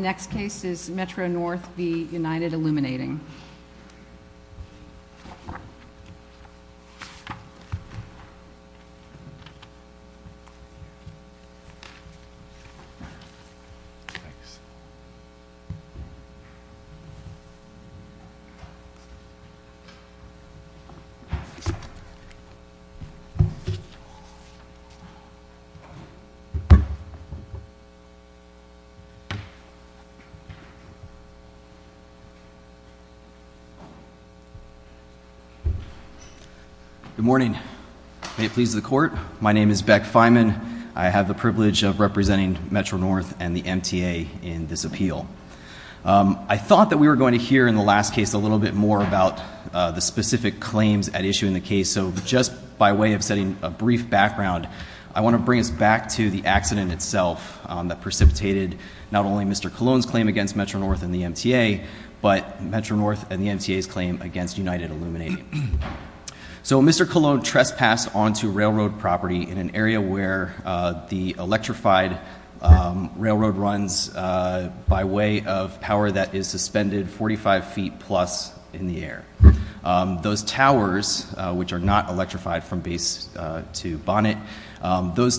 The next case is Metro-North v. United Illuminating. Good morning. May it please the court, my name is Beck Feynman. I have the privilege of representing Metro-North and the MTA in this appeal. I thought that we were going to hear in the last case a little bit more about the specific claims at issue in the case, so just by way of setting a brief background, I want to bring us back to the accident itself that precipitated not only Mr. Colon's claim against Metro-North and the MTA, but Metro-North and the MTA's claim against United Illuminating. So Mr. Colon trespassed onto railroad property in an area where the electrified railroad runs by way of power that is suspended 45 feet plus in the air. Those towers, which are not electrified from base to bonnet, those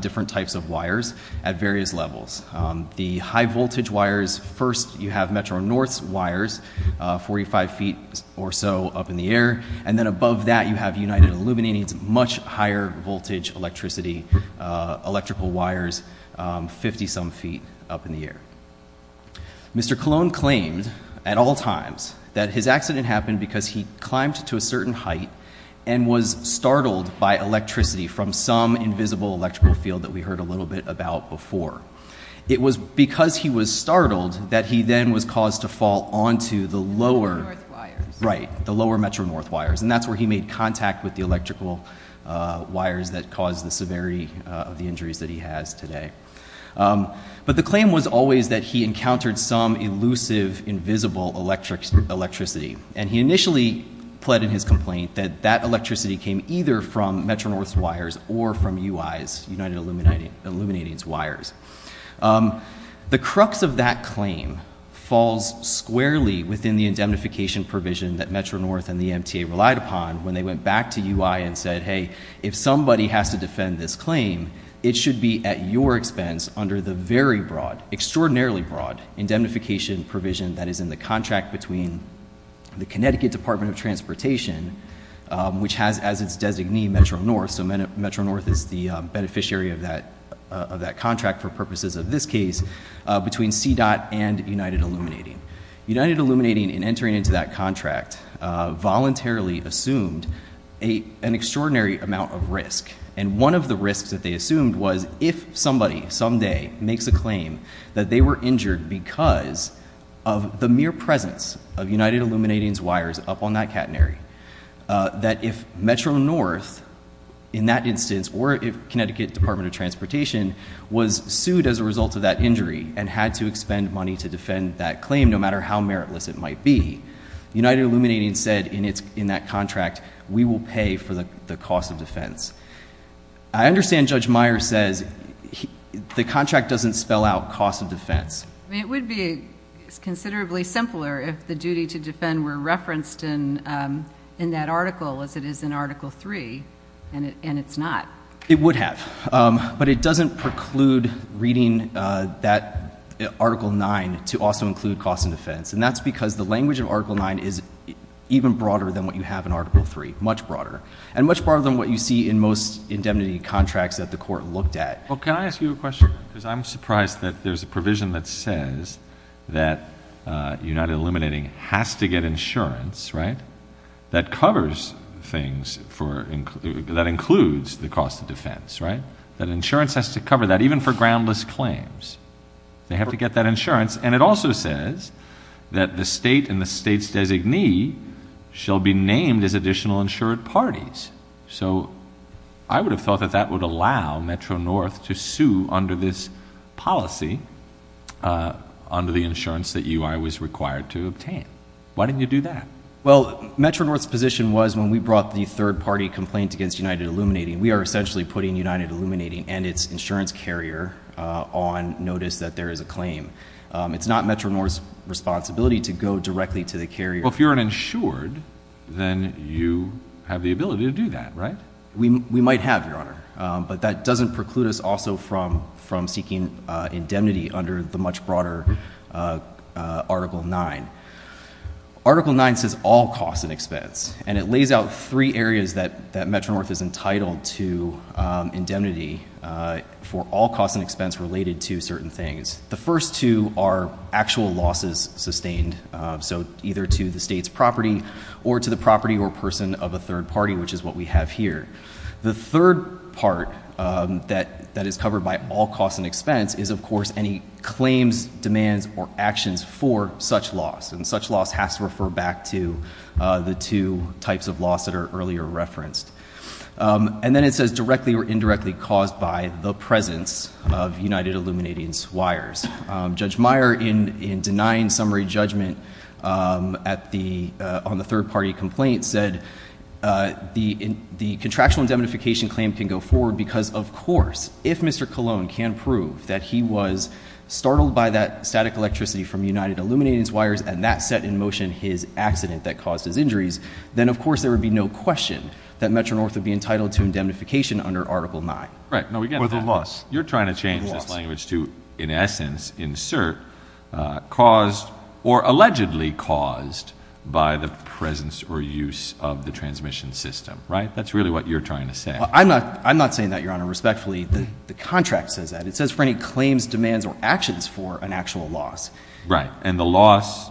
different types of wires at various levels. The high voltage wires, first you have Metro-North's wires, 45 feet or so up in the air, and then above that you have United Illuminating's much higher voltage electricity electrical wires, 50 some feet up in the air. Mr. Colon claimed at all times that his accident happened because he climbed to a certain height and was startled by electricity from some invisible electrical field that we heard a little bit about before. It was because he was startled that he then was caused to fall onto the lower Metro-North wires, and that's where he made contact with the electrical wires that caused the severity of the injuries that he has today. But the claim was always that he encountered some elusive, invisible electricity, and he initially pled in his complaint that that electricity came either from Metro-North's wires or from UI's, United Illuminating's wires. The crux of that claim falls squarely within the indemnification provision that Metro-North and the MTA relied upon when they went back to UI and said, hey, if somebody has to defend this claim, it should be at your expense under the very broad, extraordinarily broad indemnification provision that is in the contract between the Connecticut Department of Transportation, which has as its designee Metro-North, so Metro-North is the beneficiary of that contract for purposes of this case, between CDOT and United Illuminating. United Illuminating in entering into that contract voluntarily assumed an extraordinary amount of risk, and one of the risks that they assumed was if somebody someday makes a claim that they were injured because of the mere presence of United Illuminating's wires up on that catenary, that if Metro-North, in that instance, or if Connecticut Department of Transportation was sued as a result of that injury and had to expend money to defend that claim, no matter how meritless it might be, United Illuminating said in that contract, we will pay for the cost of defense. I understand Judge Meyer says the contract doesn't spell out cost of defense. It would be considerably simpler if the duty to defend were referenced in that article as it is in Article 3, and it's not. It would have, but it doesn't preclude reading that Article 9 to also include cost of defense, and that's because the language of Article 9 is even broader than what you have in Article 3, much broader, and much broader than what you see in most indemnity contracts that the I'm surprised that there's a provision that says that United Illuminating has to get insurance that covers things, that includes the cost of defense, that insurance has to cover that even for groundless claims. They have to get that insurance, and it also says that the state and the state's designee shall be named as additional insured parties, so I would have thought that that would allow Metro-North to sue under this policy, under the insurance that UI was required to obtain. Why didn't you do that? Well, Metro-North's position was when we brought the third-party complaint against United Illuminating, we are essentially putting United Illuminating and its insurance carrier on notice that there is a claim. It's not Metro-North's responsibility to go directly to the carrier. Well, if you're an insured, then you have the ability to do that, right? We might have, Your Honor, but that doesn't preclude us also from seeking indemnity under the much broader Article 9. Article 9 says all costs and expense, and it lays out three areas that Metro-North is entitled to indemnity for all costs and expense related to certain things. The first two are actual losses sustained, so either to the state's property or to the carrier. The third part that is covered by all costs and expense is, of course, any claims, demands, or actions for such loss, and such loss has to refer back to the two types of loss that are earlier referenced. And then it says directly or indirectly caused by the presence of United Illuminating's wires. Judge Meyer, in denying summary judgment on the third party complaint, said the contractual indemnification claim can go forward because, of course, if Mr. Colon can prove that he was startled by that static electricity from United Illuminating's wires and that set in motion his accident that caused his injuries, then of course there would be no question that Metro-North would be entitled to indemnification under Article 9. Right. No, again, you're trying to change this language to, in essence, insert caused or allegedly caused by the presence or use of the transmission system, right? That's really what you're trying to say. I'm not saying that, Your Honor. Respectfully, the contract says that. It says for any claims, demands, or actions for an actual loss. Right. And the loss,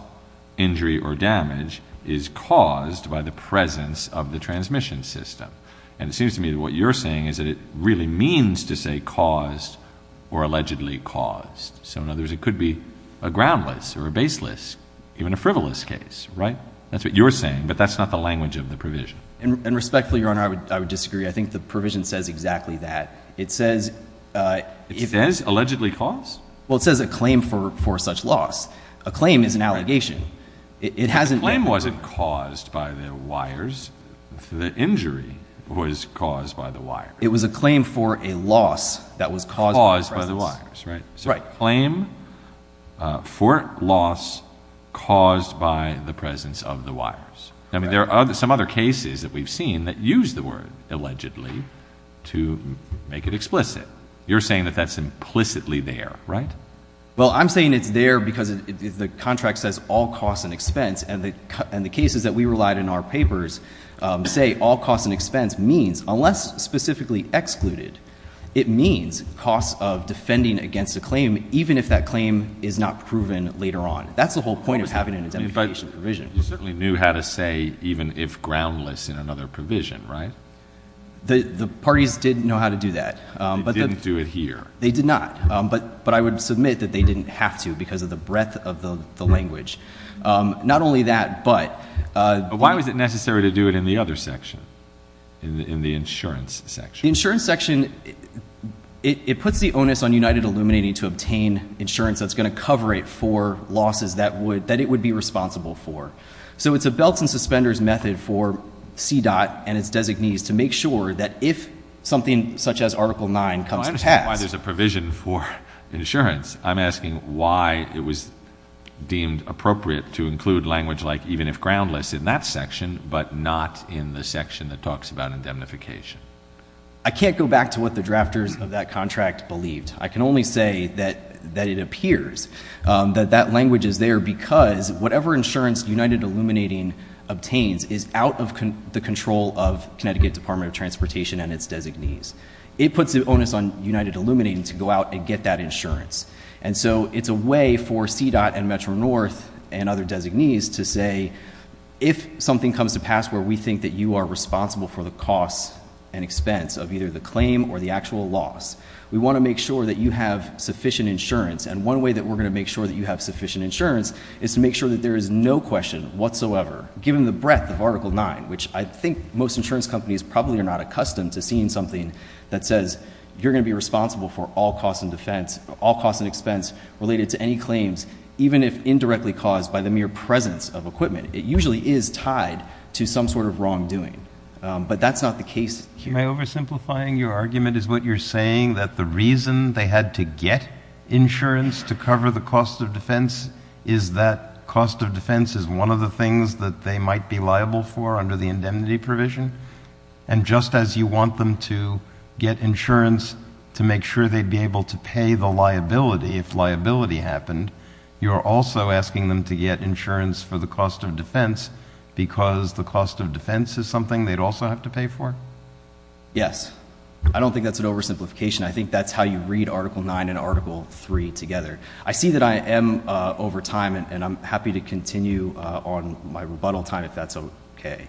injury, or damage is caused by the presence of the transmission system. And it seems to me that what you're saying is that it really means to say caused or allegedly caused. So, in other words, it could be a groundless or a baseless, even a frivolous case, right? That's what you're saying, but that's not the language of the And respectfully, Your Honor, I would disagree. I think the provision says exactly that. It says... It says allegedly caused? Well, it says a claim for such loss. A claim is an allegation. It hasn't been proven. The claim wasn't caused by the wires. The injury was caused by the wires. It was a claim for a loss that was caused by the presence of the wires. Caused by the wires, right? Right. So, a claim for loss caused by the presence of the wires. I mean, there are some other cases that we've seen that use the word allegedly to make it explicit. You're saying that that's implicitly there, right? Well, I'm saying it's there because the contract says all costs and expense. And the cases that we relied on in our papers say all costs and expense means, unless specifically excluded, it means costs of defending against a claim, even if that claim is not proven later on. That's the whole point of having an indemnification provision. You certainly knew how to say even if groundless in another provision, right? The parties did know how to do that. They didn't do it here. They did not. But I would submit that they didn't have to because of the breadth of the Why was it necessary to do it in the other section? In the insurance section? The insurance section, it puts the onus on United Illuminati to obtain insurance that's going to cover it for losses that it would be responsible for. So, it's a belts and suspenders method for CDOT and its designees to make sure that if something such as Article 9 comes past I understand why there's a provision for insurance. I'm asking why it was deemed appropriate to in that section but not in the section that talks about indemnification. I can't go back to what the drafters of that contract believed. I can only say that it appears that that language is there because whatever insurance United Illuminati obtains is out of the control of Connecticut Department of Transportation and its designees. It puts the onus on United Illuminati to go out and get that insurance. And so, it's a way for If something comes to pass where we think that you are responsible for the costs and expense of either the claim or the actual loss, we want to make sure that you have sufficient insurance and one way that we're going to make sure that you have sufficient insurance is to make sure that there is no question whatsoever, given the breadth of Article 9, which I think most insurance companies probably are not accustomed to seeing something that says you're going to be responsible for all costs and expense related to any claims, even if indirectly caused by the mere presence of equipment. It usually is tied to some sort of wrongdoing. But that's not the case here. Am I oversimplifying your argument? Is what you're saying that the reason they had to get insurance to cover the cost of defense is that cost of defense is one of the things that they might be liable for under the indemnity provision? And just as you want them to get insurance to make sure they'd be able to pay the liability if liability happened, you're also asking them to get insurance for the cost of defense because the cost of defense is something they'd also have to pay for? Yes. I don't think that's an oversimplification. I think that's how you read Article 9 and Article 3 together. I see that I am over time, and I'm happy to continue on my rebuttal time if that's okay.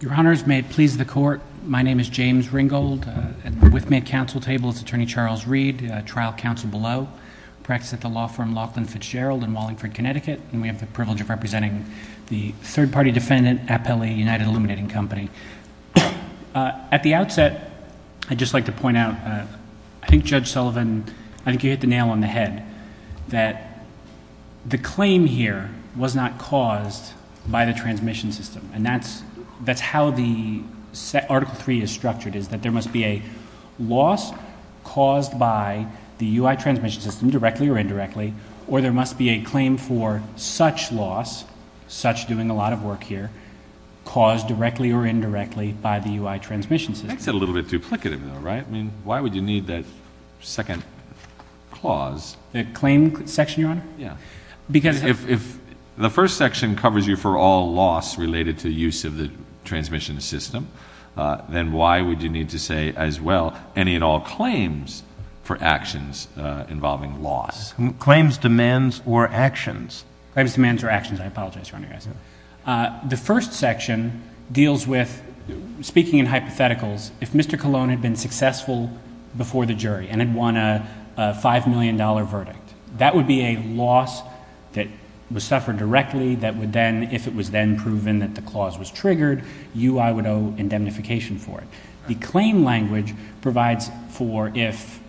Your Honors, may it please the Court, my name is James Ringgold. At the with me at counsel table is Attorney Charles Reed, trial counsel below. I practice at the law firm Laughlin Fitzgerald in Wallingford, Connecticut, and we have the privilege of representing the third party defendant, Appelli United Illuminating Company. At the outset, I'd just like to point out, I think Judge Sullivan, I think you hit the nail on the head, that the claim here was not caused by the transmission system, and that's how the Article 3 is structured, is that there must be a loss caused by the U.I. transmission system, directly or indirectly, or there must be a claim for such loss, such doing a lot of work here, caused directly or indirectly by the U.I. transmission system. That's a little bit duplicative, though, right? I mean, why would you need that second clause? The claim section, Your Honor? Yeah. Because if the first section covers you for all loss related to use of the transmission system, then why would you need to say, as well, any and all claims for actions involving loss? Claims, demands, or actions? Claims, demands, or actions. I apologize, Your Honor. The first section deals with, speaking in hypotheticals, if Mr. Colon had been successful before the jury and had won a $5 million verdict, that would be a loss that was suffered directly, that would then, if it was then proven that the clause was triggered, U.I. would owe indemnification for it. The claim language provides for if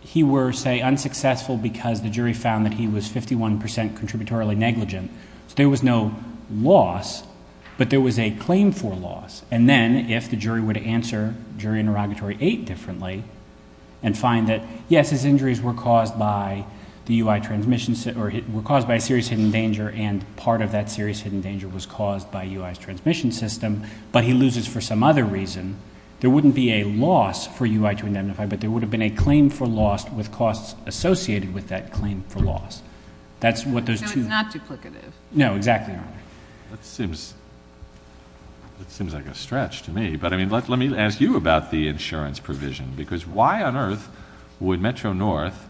he were, say, unsuccessful because the jury found that he was 51 percent contributorily negligent. So there was no loss, but there was a claim for loss. And then, if the jury were to answer Jury Interrogatory 8 differently and find that, yes, his injuries were caused by a serious hidden danger, and part of that serious hidden danger was caused by U.I.'s transmission system, but he loses for some other reason, there wouldn't be a loss for U.I. to indemnify, but there would have been a claim for loss with costs associated with that claim for loss. That's what those two... So it's not duplicative. No, exactly, Your Honor. That seems like a stretch to me, but I mean, let me ask you about the insurance provision, because why on earth would Metro-North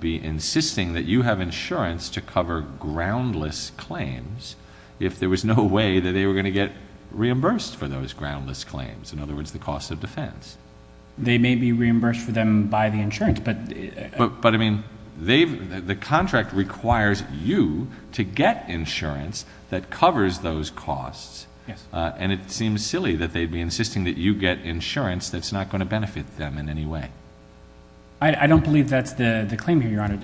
be insisting that you have insurance to cover groundless claims if there was no way that they were going to get reimbursed for those groundless claims, in other words, the cost of defense? They may be reimbursed for them by the insurance, but... But, I mean, they've... the contract requires you to get insurance that covers those costs, and it seems silly that they'd be insisting that you get insurance that's not going to benefit them in any way. I don't believe that's the claim here, Your Honor.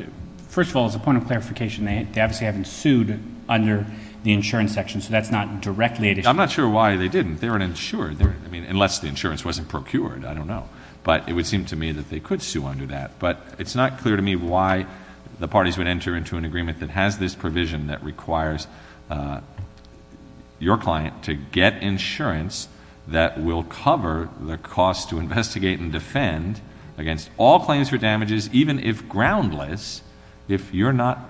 First of all, as a point of clarification, they obviously haven't sued under the insurance section, so that's not directly at issue. I'm not sure why they didn't. They weren't insured, I mean, unless the insurance wasn't procured, I don't know, but it would seem to me that they could sue under that, but it's not clear to me why the parties would enter into an agreement that has this provision that requires your client to get insurance that will cover the cost to investigate and defend against all claims for damages, even if groundless, if you're not...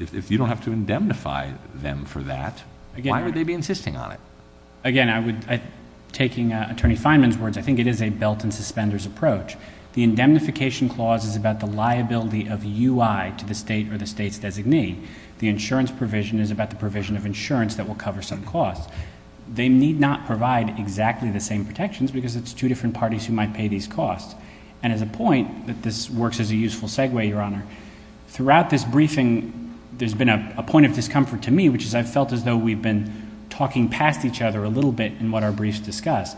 if you don't have to indemnify them for that, why would they be insisting on it? Again, I would... taking Attorney Fineman's words, I think it is a belt and suspenders approach. The indemnification clause is about the liability of UI to the State or the State's designee. The insurance provision is about the provision of insurance that will cover some costs. They need not provide exactly the same protections because it's two different parties who might pay these costs, and as a point that this works as a useful segue, Your Honor, throughout this briefing, there's been a point of discomfort to me, which is I've felt as though we've been talking past each other a little bit in what our briefs discussed.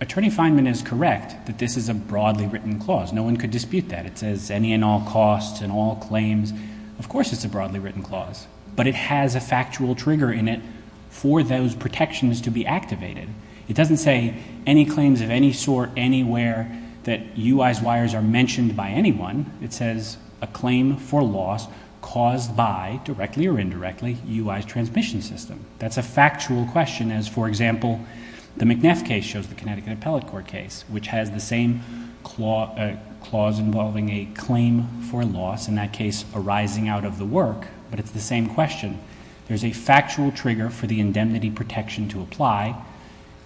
Attorney Fineman is correct that this is a broadly written clause. No one could dispute that. It says any and all costs and all claims. Of course it's a broadly written clause, but it has a factual trigger in it for those protections to be activated. It doesn't say any claims of any sort anywhere that UI's wires are mentioned by anyone. It says a claim for loss caused by, directly or indirectly, UI's transmission system. That's a factual question as, for example, the McNeff case shows, the Connecticut Appellate Court case, which has the same clause involving a claim for loss, in that case arising out of the work, but it's the same question. There's a factual trigger for the indemnity protection to apply,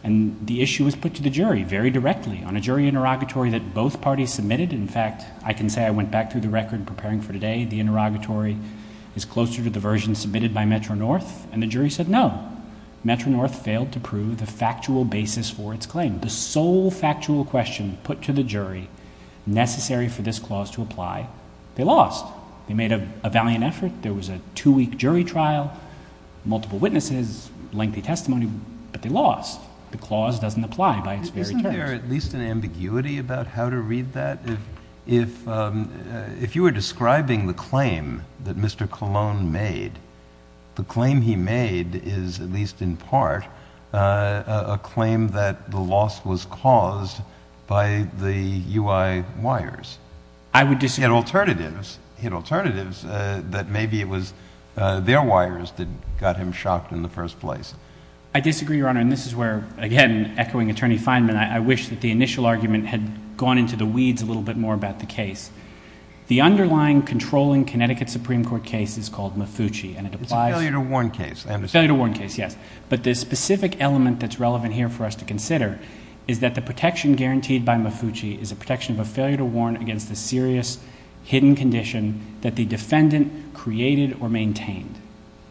and the issue is put to the jury very directly on a jury interrogatory that both parties submitted. In fact, I can say, I went back through the record preparing for today, the interrogatory is closer to the version submitted by Metro-North, and the jury said no. Metro-North failed to prove the factual basis for its claim. The sole factual question put to the jury, necessary for this clause to apply, they lost. They made a valiant effort. There was a two-week jury trial, multiple witnesses, lengthy testimony, but they lost. The clause doesn't apply by its very terms. Is there at least an ambiguity about how to read that? If you were describing the claim that Mr. Colon made, the claim he made is, at least in part, a claim that the loss was caused by the UI wires. I would disagree. He had alternatives. He had alternatives that maybe it was their wires that got him shocked in the first place. I disagree, Your Honor, and this is where, again, echoing Attorney Feinman, I wish that the initial argument had gone into the weeds a little bit more about the case. The underlying controlling Connecticut Supreme Court case is called Mufuchi. It's a failure to warn case, I understand. Failure to warn case, yes, but the specific element that's relevant here for us to consider is that the protection guaranteed by Mufuchi is a protection of a failure to warn against a serious hidden condition that the defendant created or maintained.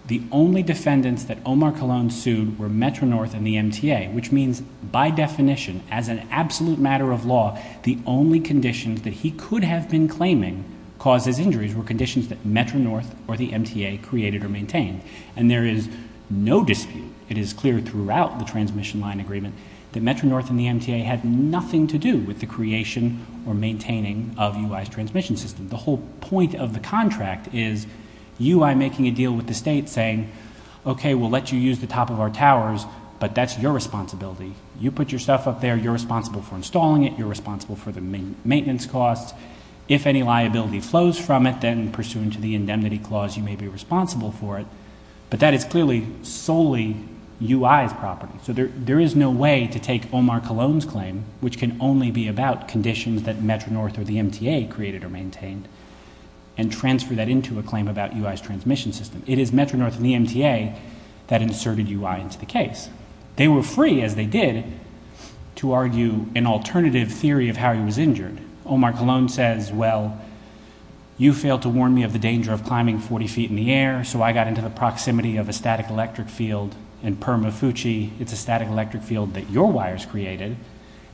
The only defendants that Omar Colon sued were Metro-North and the MTA, which means, by definition, as an absolute matter of law, the only conditions that he could have been claiming caused his injuries were conditions that Metro-North or the MTA created or maintained. And there is no dispute, it is clear throughout the transmission line agreement, that Metro-North and the MTA had nothing to do with the creation or maintaining of UI's transmission system. The whole point of the contract is UI making a deal with the state saying, okay, we'll let you use the top of our towers, but that's your responsibility. You put your stuff up there, you're responsible for installing it, you're responsible for the maintenance costs. If any liability flows from it, then pursuant to the indemnity clause, you may be responsible for it. But that is clearly solely UI's property. So there is no way to take Omar Colon's claim, which can only be about conditions that Metro-North or the MTA created or maintained, and transfer that into a claim about UI's transmission system. It is Metro-North and the MTA that inserted UI into the case. They were free, as they did, to argue an alternative theory of how he was injured. Omar Colon says, well, you failed to warn me of the danger of climbing 40 feet in the air, so I got into the proximity of a static electric field in Permafuci. It's a static electric field that your wires created.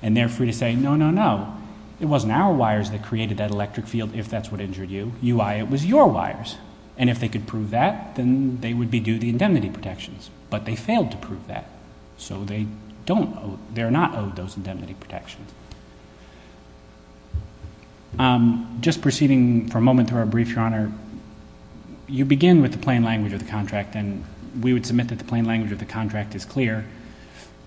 And they're free to say, no, no, no, it wasn't our wires that created that electric field, if that's what injured you. UI, it was your wires. And if they could prove that, then they would be due the indemnity protections. But they failed to prove that. So they don't owe, they're not owed those indemnity protections. Just proceeding for a moment through our brief, Your Honor, you begin with the plain language of the contract, and we would submit that the plain language of the contract is clear.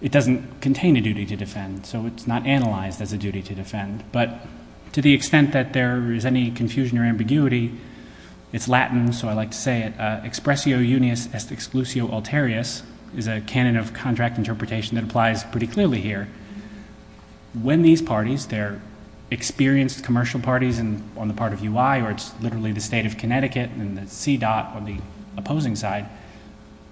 It doesn't contain a duty to defend, so it's not analyzed as a duty to defend. But to the extent that there is any confusion or ambiguity, it's Latin, so I like to say it, expressio unius est exclusio alterius, is a canon of contract interpretation that applies pretty clearly here. When these parties, they're experienced commercial parties on the part of UI, or it's literally the state of Connecticut and the C-dot on the opposing side,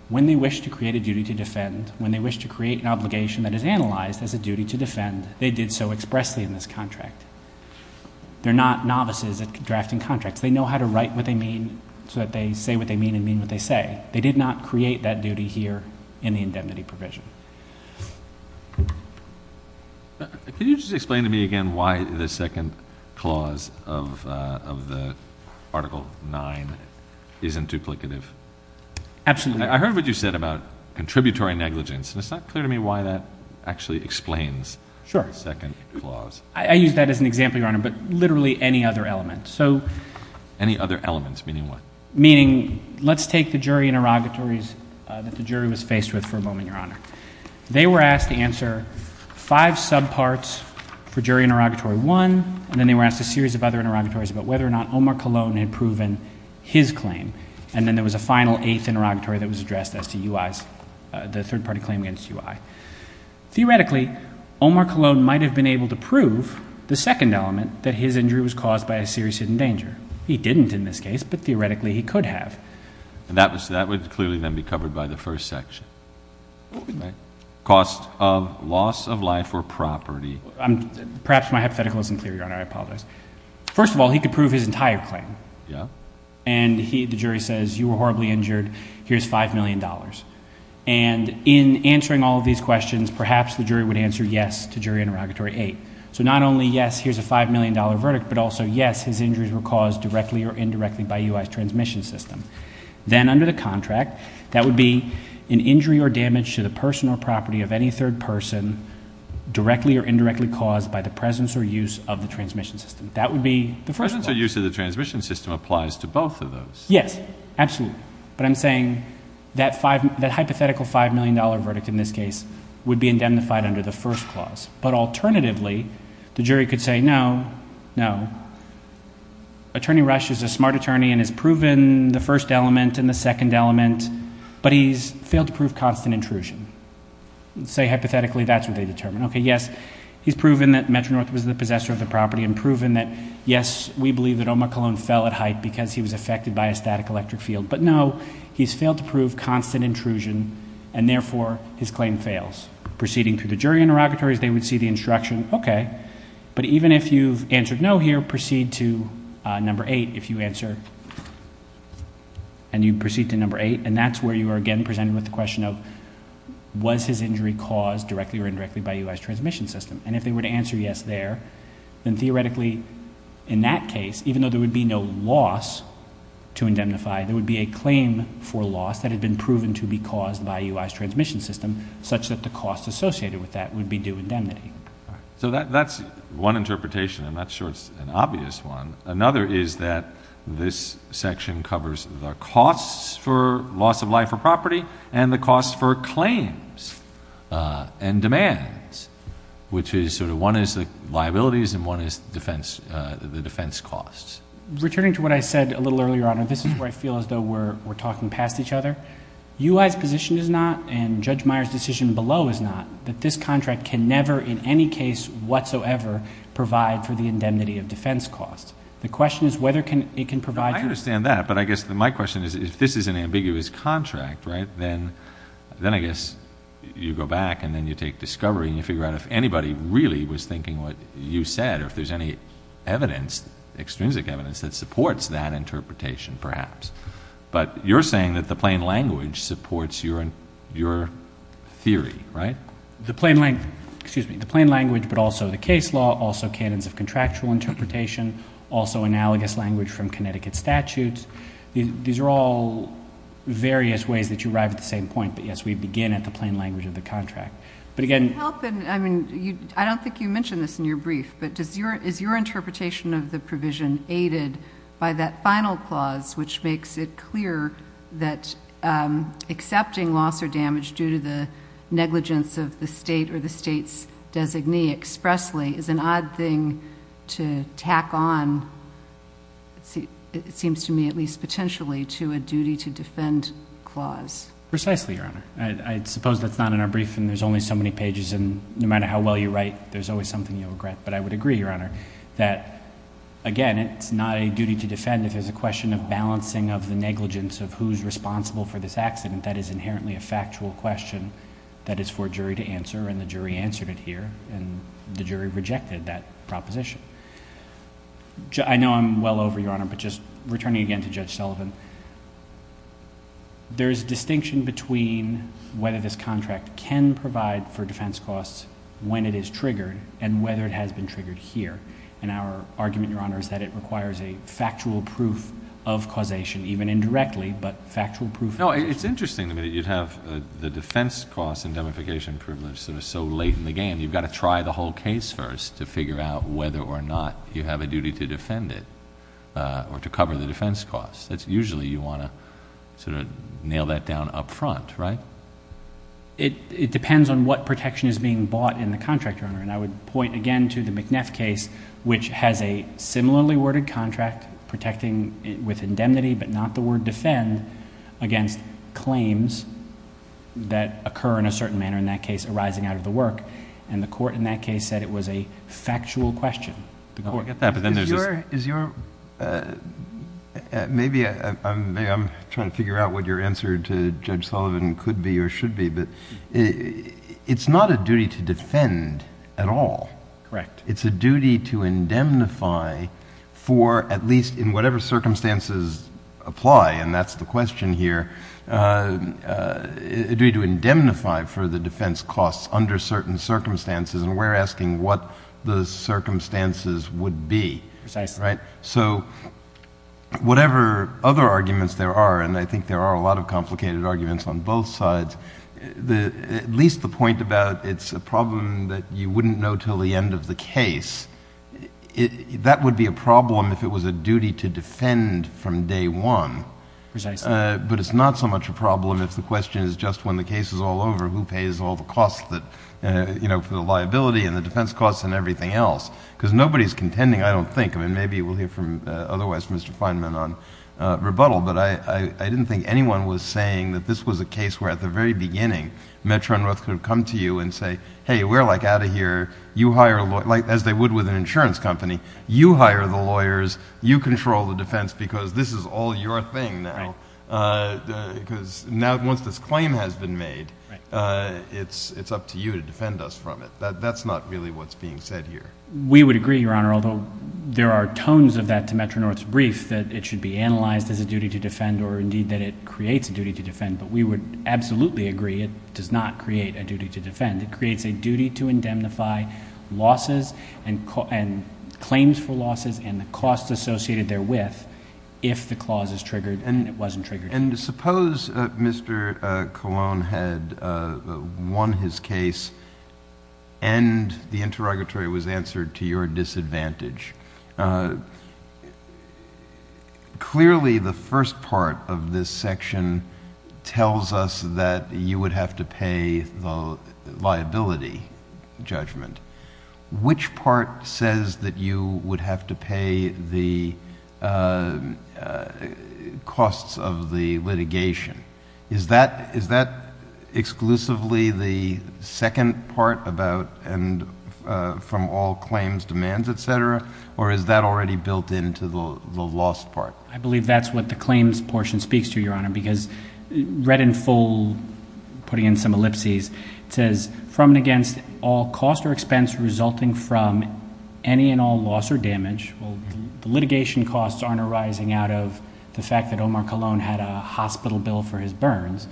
when they wish to create a duty to defend, when they wish to create an obligation that is analyzed as a duty to defend, they did so expressly in this contract. They're not novices at drafting contracts. They know how to write what they mean so that they say what they mean and mean what they say. They did not create that duty here in the indemnity provision. Can you just explain to me again why the second clause of the Article 9 isn't duplicative? Absolutely. I heard what you said about contributory negligence, and it's not clear to me why that actually explains the second clause. Sure. I use that as an example, Your Honor, but literally any other element. Any other elements, meaning what? Meaning, let's take the jury interrogatories that the jury was faced with for a moment, Your Honor. They were asked to answer five subparts for jury interrogatory one, and then they were asked a series of other interrogatories about whether or not Omar Colon had proven his claim, and then there was a final eighth interrogatory that was addressed as to UI's, the third-party claim against UI. Theoretically, Omar Colon might have been able to prove the second element that his injury was caused by a serious hidden danger. He didn't in this case, but theoretically he could have. That would clearly then be covered by the first section. Cost of loss of life or property. Perhaps my hypothetical isn't clear, Your Honor. I apologize. First of all, he could prove his entire claim, and the jury says, you were horribly injured. Here's $5 million. In answering all of these questions, perhaps the jury would answer yes to jury interrogatory eight. Not only yes, here's a $5 million verdict, but also yes, his injuries were caused directly or indirectly by UI's transmission system. Then under the contract, that would be an injury or damage to the person or property of any third person directly or indirectly caused by the presence or use of the transmission system. That would be the first clause. The presence or use of the transmission system applies to both of those. Yes, absolutely. I'm saying that hypothetical $5 million verdict in this case would be indemnified under the first clause. Alternatively, the jury could say, no, no. Attorney Rush is a smart attorney and has proven the first element and the second element, but he's failed to prove constant intrusion. Say hypothetically, that's what they determined. Yes, he's proven that Metro-North was the possessor of the property and proven that, yes, we believe that Omar Cologne fell at height because he was affected by a static electric field, but no, he's failed to prove constant intrusion, and therefore, his claim fails. Proceeding through the jury interrogatories, they would see the instruction, okay, but even if you've answered no here, proceed to number eight if you answer, and you proceed to number eight, and that's where you are again presented with the question of was his transmission system, and if they were to answer yes there, then theoretically, in that case, even though there would be no loss to indemnify, there would be a claim for loss that had been proven to be caused by UI's transmission system such that the cost associated with that would be due indemnity. So that's one interpretation. I'm not sure it's an obvious one. Another is that this which is sort of one is the liabilities and one is the defense costs. Returning to what I said a little earlier, Your Honor, this is where I feel as though we're talking past each other. UI's position is not and Judge Meyer's decision below is not that this contract can never in any case whatsoever provide for the indemnity of defense costs. The question is whether it can provide... I understand that, but I guess my question is if this is an ambiguous contract, then I guess you go back and then you take discovery and you figure out if anybody really was thinking what you said or if there's any evidence, extrinsic evidence, that supports that interpretation perhaps. But you're saying that the plain language supports your theory, right? The plain language, but also the case law, also canons of contractual interpretation, also analogous language from Connecticut statutes. These are all various ways that you arrive at the same point, but yes, we begin at the plain language of the contract. I don't think you mentioned this in your brief, but is your interpretation of the provision aided by that final clause which makes it clear that accepting loss or damage due to the negligence of the state or the state's designee expressly is an odd thing to tack on, it seems to me at least potentially, to a duty to defend clause? Precisely, Your Honor. I suppose that's not in our brief and there's only so many pages and no matter how well you write, there's always something you'll regret. But I would agree, Your Honor, that again, it's not a duty to defend. If there's a question of balancing of the negligence of who's responsible for this accident, that is inherently a factual question that is for a jury to answer and the jury answered it here and the jury rejected that proposition. I know I'm well over, Your Honor, but just returning again to Judge Sullivan, there's distinction between whether this contract can provide for defense costs when it is triggered and whether it has been triggered here. Our argument, Your Honor, is that it requires a factual proof of causation even indirectly, but factual proof... No, it's interesting. You'd have the defense cost indemnification privilege so late in the whole case first to figure out whether or not you have a duty to defend it or to cover the defense cost. That's usually you want to nail that down up front, right? It depends on what protection is being bought in the contract, Your Honor. I would point again to the McNeff case which has a similarly worded contract protecting with indemnity but not the word defend against claims that occur in a certain manner in that case arising out of the work and the court in that case said it was a factual question. I get that, but then there's... Maybe I'm trying to figure out what your answer to Judge Sullivan could be or should be, but it's not a duty to defend at all. Correct. It's a duty to indemnify for at least in whatever circumstances apply and that's the question here. A duty to indemnify for the defense costs under certain circumstances and we're asking what the circumstances would be. Precisely. So whatever other arguments there are, and I think there are a lot of complicated arguments on both sides, at least the point about it's a problem that you wouldn't know till the end of the case, that would be a problem if it was a duty to defend from day one. Precisely. But it's not so much a problem if the question is just when the case is all over who pays all the costs for the liability and the defense costs and everything else because nobody's contending I don't think. Maybe we'll hear from otherwise Mr. Feynman on rebuttal, but I didn't think anyone was saying that this was a case where at the very beginning Metro and North could have come to you and say, hey, we're like out of here, you hire... as they would with an insurance company, you hire the lawyers, you control the defense because this is all your thing now. Because now once this claim has been made, it's up to you to defend us from it. That's not really what's being said here. We would agree, Your Honor, although there are tones of that to Metro and North's brief that it should be analyzed as a duty to defend or indeed that it creates a duty to defend, but we would absolutely agree it does not create a duty to defend. It creates a duty to indemnify losses and claims for losses and the costs associated therewith if the clause is triggered and it wasn't triggered. And suppose Mr. Colon had won his case and the interrogatory was answered to your disadvantage. Clearly, the first part of this section tells us that you would have to pay the liability judgment. Which part says that you would have to pay the costs of the litigation? Is that already built into the loss part? I believe that's what the claims portion speaks to, Your Honor, because read in full, putting in some ellipses, it says, from and against all cost or expense resulting from any and all loss or damage... the litigation costs aren't arising out of the fact that Omar Colon had a hospital bill for his burns.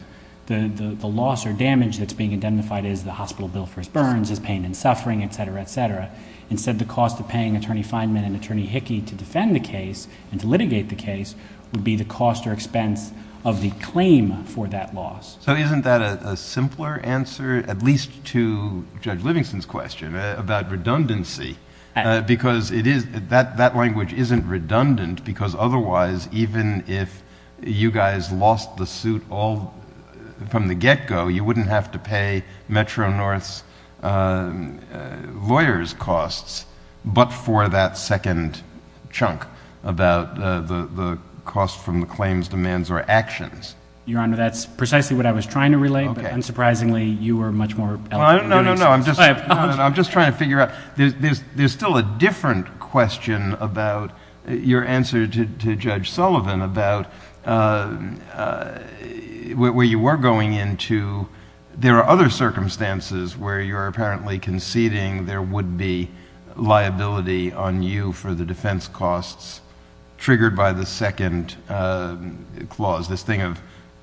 The loss or damage that's being indemnified is the hospital bill for his burns, his pain and suffering, etc., etc. Instead, the cost of paying Attorney Feinman and Attorney Hickey to defend the case and to litigate the case would be the cost or expense of the claim for that loss. So isn't that a simpler answer, at least to Judge Livingston's question about redundancy? Because that language isn't redundant because otherwise, even if you guys lost the suit all from the get-go, you wouldn't have to pay Metro-North's lawyers' costs but for that second chunk about the cost from the claims, demands, or actions. Your Honor, that's precisely what I was trying to relate, but unsurprisingly, you were much more eloquent in doing so. No, no, no. I'm just trying to figure out... there's still a different question about your answer to Judge Sullivan about where you were going into... there are other circumstances where you're apparently conceding there would be liability on you for the defense costs triggered by the second clause, this thing of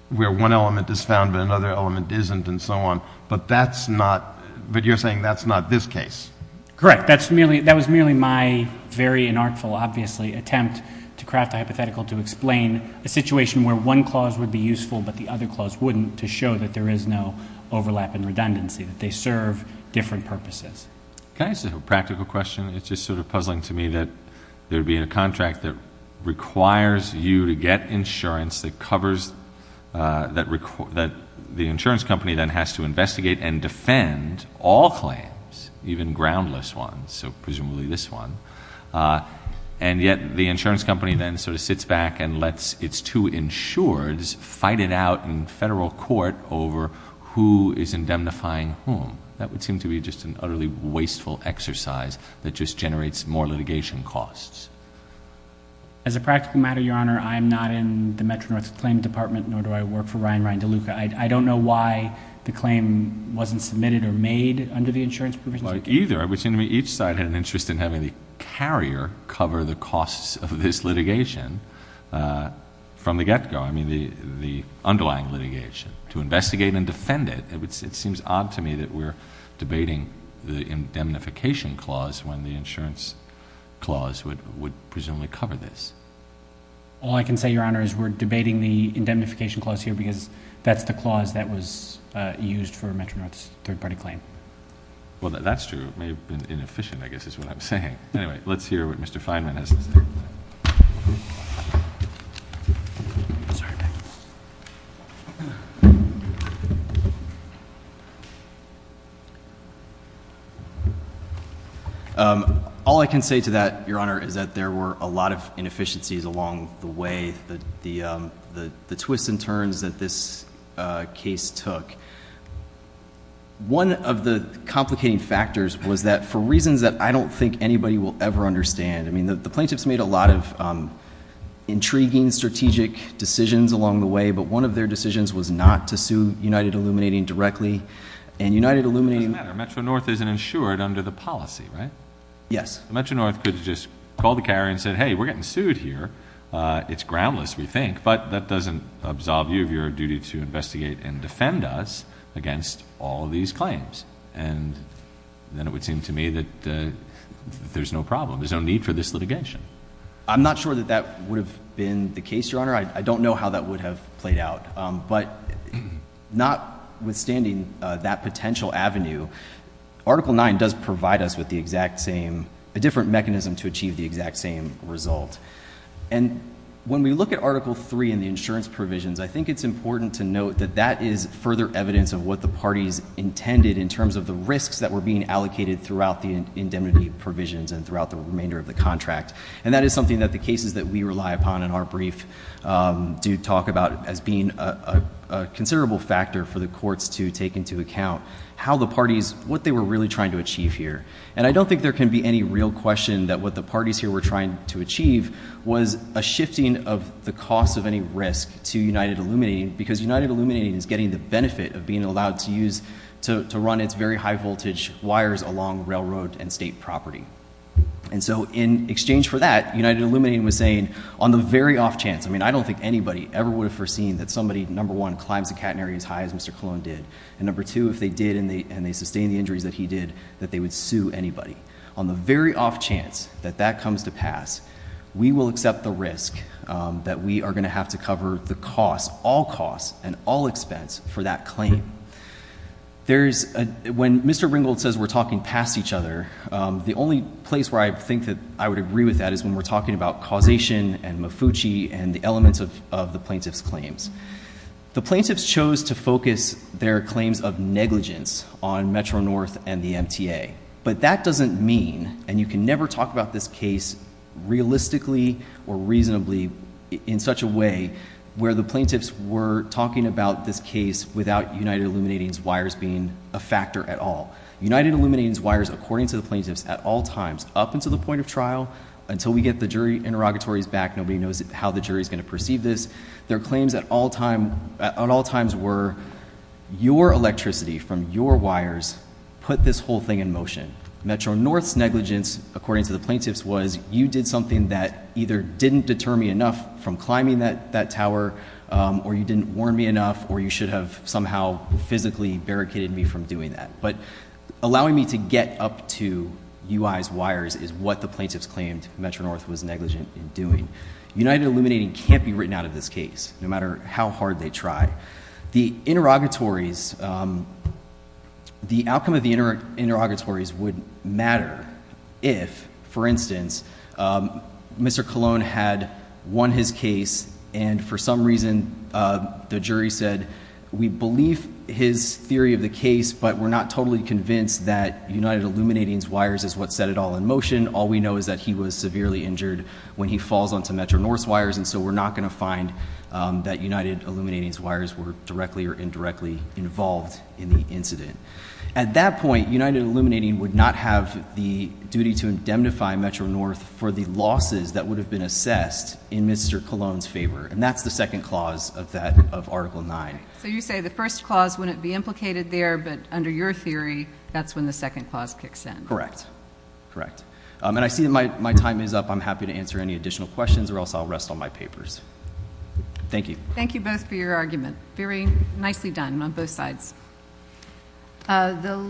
where one element is found but another element isn't and so on, but that's not... but you're saying that's not this case? Correct. That was merely my very inartful, obviously, attempt to craft a hypothetical to explain a situation where one clause would be useful but the other clause wouldn't to show that there is no overlap in redundancy, that they serve different purposes. Can I ask a practical question? It's just sort of puzzling to me that there'd be a contract that requires you to get insurance that covers... that the insurance company then has to investigate and defend all claims, even groundless ones, so presumably this one, and yet the insurance company then sort of sits back and lets its two insureds fight it out in federal court over who is indemnifying whom. That would seem to be just an utterly wasteful exercise that just generates more litigation costs. As a practical matter, Your Honor, I'm not in the Metro-North Claims Department nor do I work for Ryan Ryan DeLuca. I don't know why the claim wasn't submitted or made under the insurance provisions. Neither. It would seem to me each side had an interest in having the carrier cover the costs of this litigation from the get-go, I mean the underlying litigation, to investigate and defend it. It seems odd to me that we're debating the indemnification clause when the insurance clause would presumably cover this. All I can say, Your Honor, is we're debating the indemnification clause here because that's the clause that was used for Metro-North's third-party claim. Well, that's true. It may have been inefficient, I guess is what I'm saying. Anyway, let's hear what Mr. Fineman has to say. All I can say to that, Your Honor, is that there were a lot of inefficiencies along the way, the twists and turns that this case took. One of the complicating factors was that for reasons that I don't think anybody will ever understand, the plaintiffs made a lot of intriguing strategic decisions along the way, but one of their decisions was not to sue United Illuminating directly. It doesn't matter. Metro-North isn't insured under the policy, right? Yes. Metro-North could just call the carrier and say, hey, we're getting sued here. It's groundless, we think, but that doesn't absolve you of your duty to investigate and defend us against all of these claims. And then it would seem to me that there's no problem. There's no need for this litigation. I'm not sure that that would have been the case, Your Honor. I don't know how that would have played out. But notwithstanding that potential avenue, Article 9 does provide us with the exact same, a different mechanism to achieve the exact same result. And when we look at Article 3 in the insurance provisions, I think it's important to note that that is further evidence of what the parties intended in terms of the risks that were being allocated throughout the indemnity provisions and throughout the remainder of the contract. And that is something that the cases that we rely upon in our brief do talk about as being a considerable factor for the courts to take into account how the parties, what they were really trying to achieve here. And I don't think there can be any real question that what the parties here were trying to achieve was a shifting of the cost of any risk to United Illuminating, because United Illuminating, for the benefit of being allowed to use, to run its very high voltage wires along railroad and state property. And so in exchange for that, United Illuminating was saying, on the very off chance, I mean, I don't think anybody ever would have foreseen that somebody, number one, climbs the catenary as high as Mr. Colon did, and number two, if they did and they sustained the injuries that he did, that they would sue anybody. On the very off chance that that comes to pass, we will accept the risk that we are The plaintiffs chose to focus their claims of negligence on Metro-North and the MTA. But that doesn't mean, and you can never talk about this case realistically or reasonably in such a way where the plaintiffs were talking about this case without United Illuminating's wires being a factor at all. United Illuminating's wires, according to the plaintiffs, at all times, up until the point of trial, until we get the jury interrogatories back, nobody knows how the jury is going to perceive this, their claims at all times were, your electricity from your wires put this whole thing in motion. Metro-North's negligence, according to the plaintiffs, you didn't warn me enough from climbing that tower, or you didn't warn me enough, or you should have somehow physically barricaded me from doing that. But allowing me to get up to UI's wires is what the plaintiffs claimed Metro-North was negligent in doing. United Illuminating can't be written out of this case, no matter how hard they try. The interrogatories, the outcome of the interrogatories would matter if, for instance, Mr. Colon had won his case and for some reason the jury said, we believe his theory of the case, but we're not totally convinced that United Illuminating's wires is what set it all in motion. All we know is that he was severely injured when he falls onto Metro-North's wires, and so we're not going to find that United Illuminating's wires were directly or indirectly involved in the incident. At that point, United Illuminating would not have the duty to indemnify Metro-North for the losses that would have been assessed in Mr. Colon's favor, and that's the second clause of that, of Article 9. So you say the first clause wouldn't be implicated there, but under your theory, that's when the second clause kicks in. Correct. Correct. And I see my time is up. I'm happy to answer any additional questions or else I'll rest on my papers. Thank you. Thank you both for your argument. Very nicely done on both sides.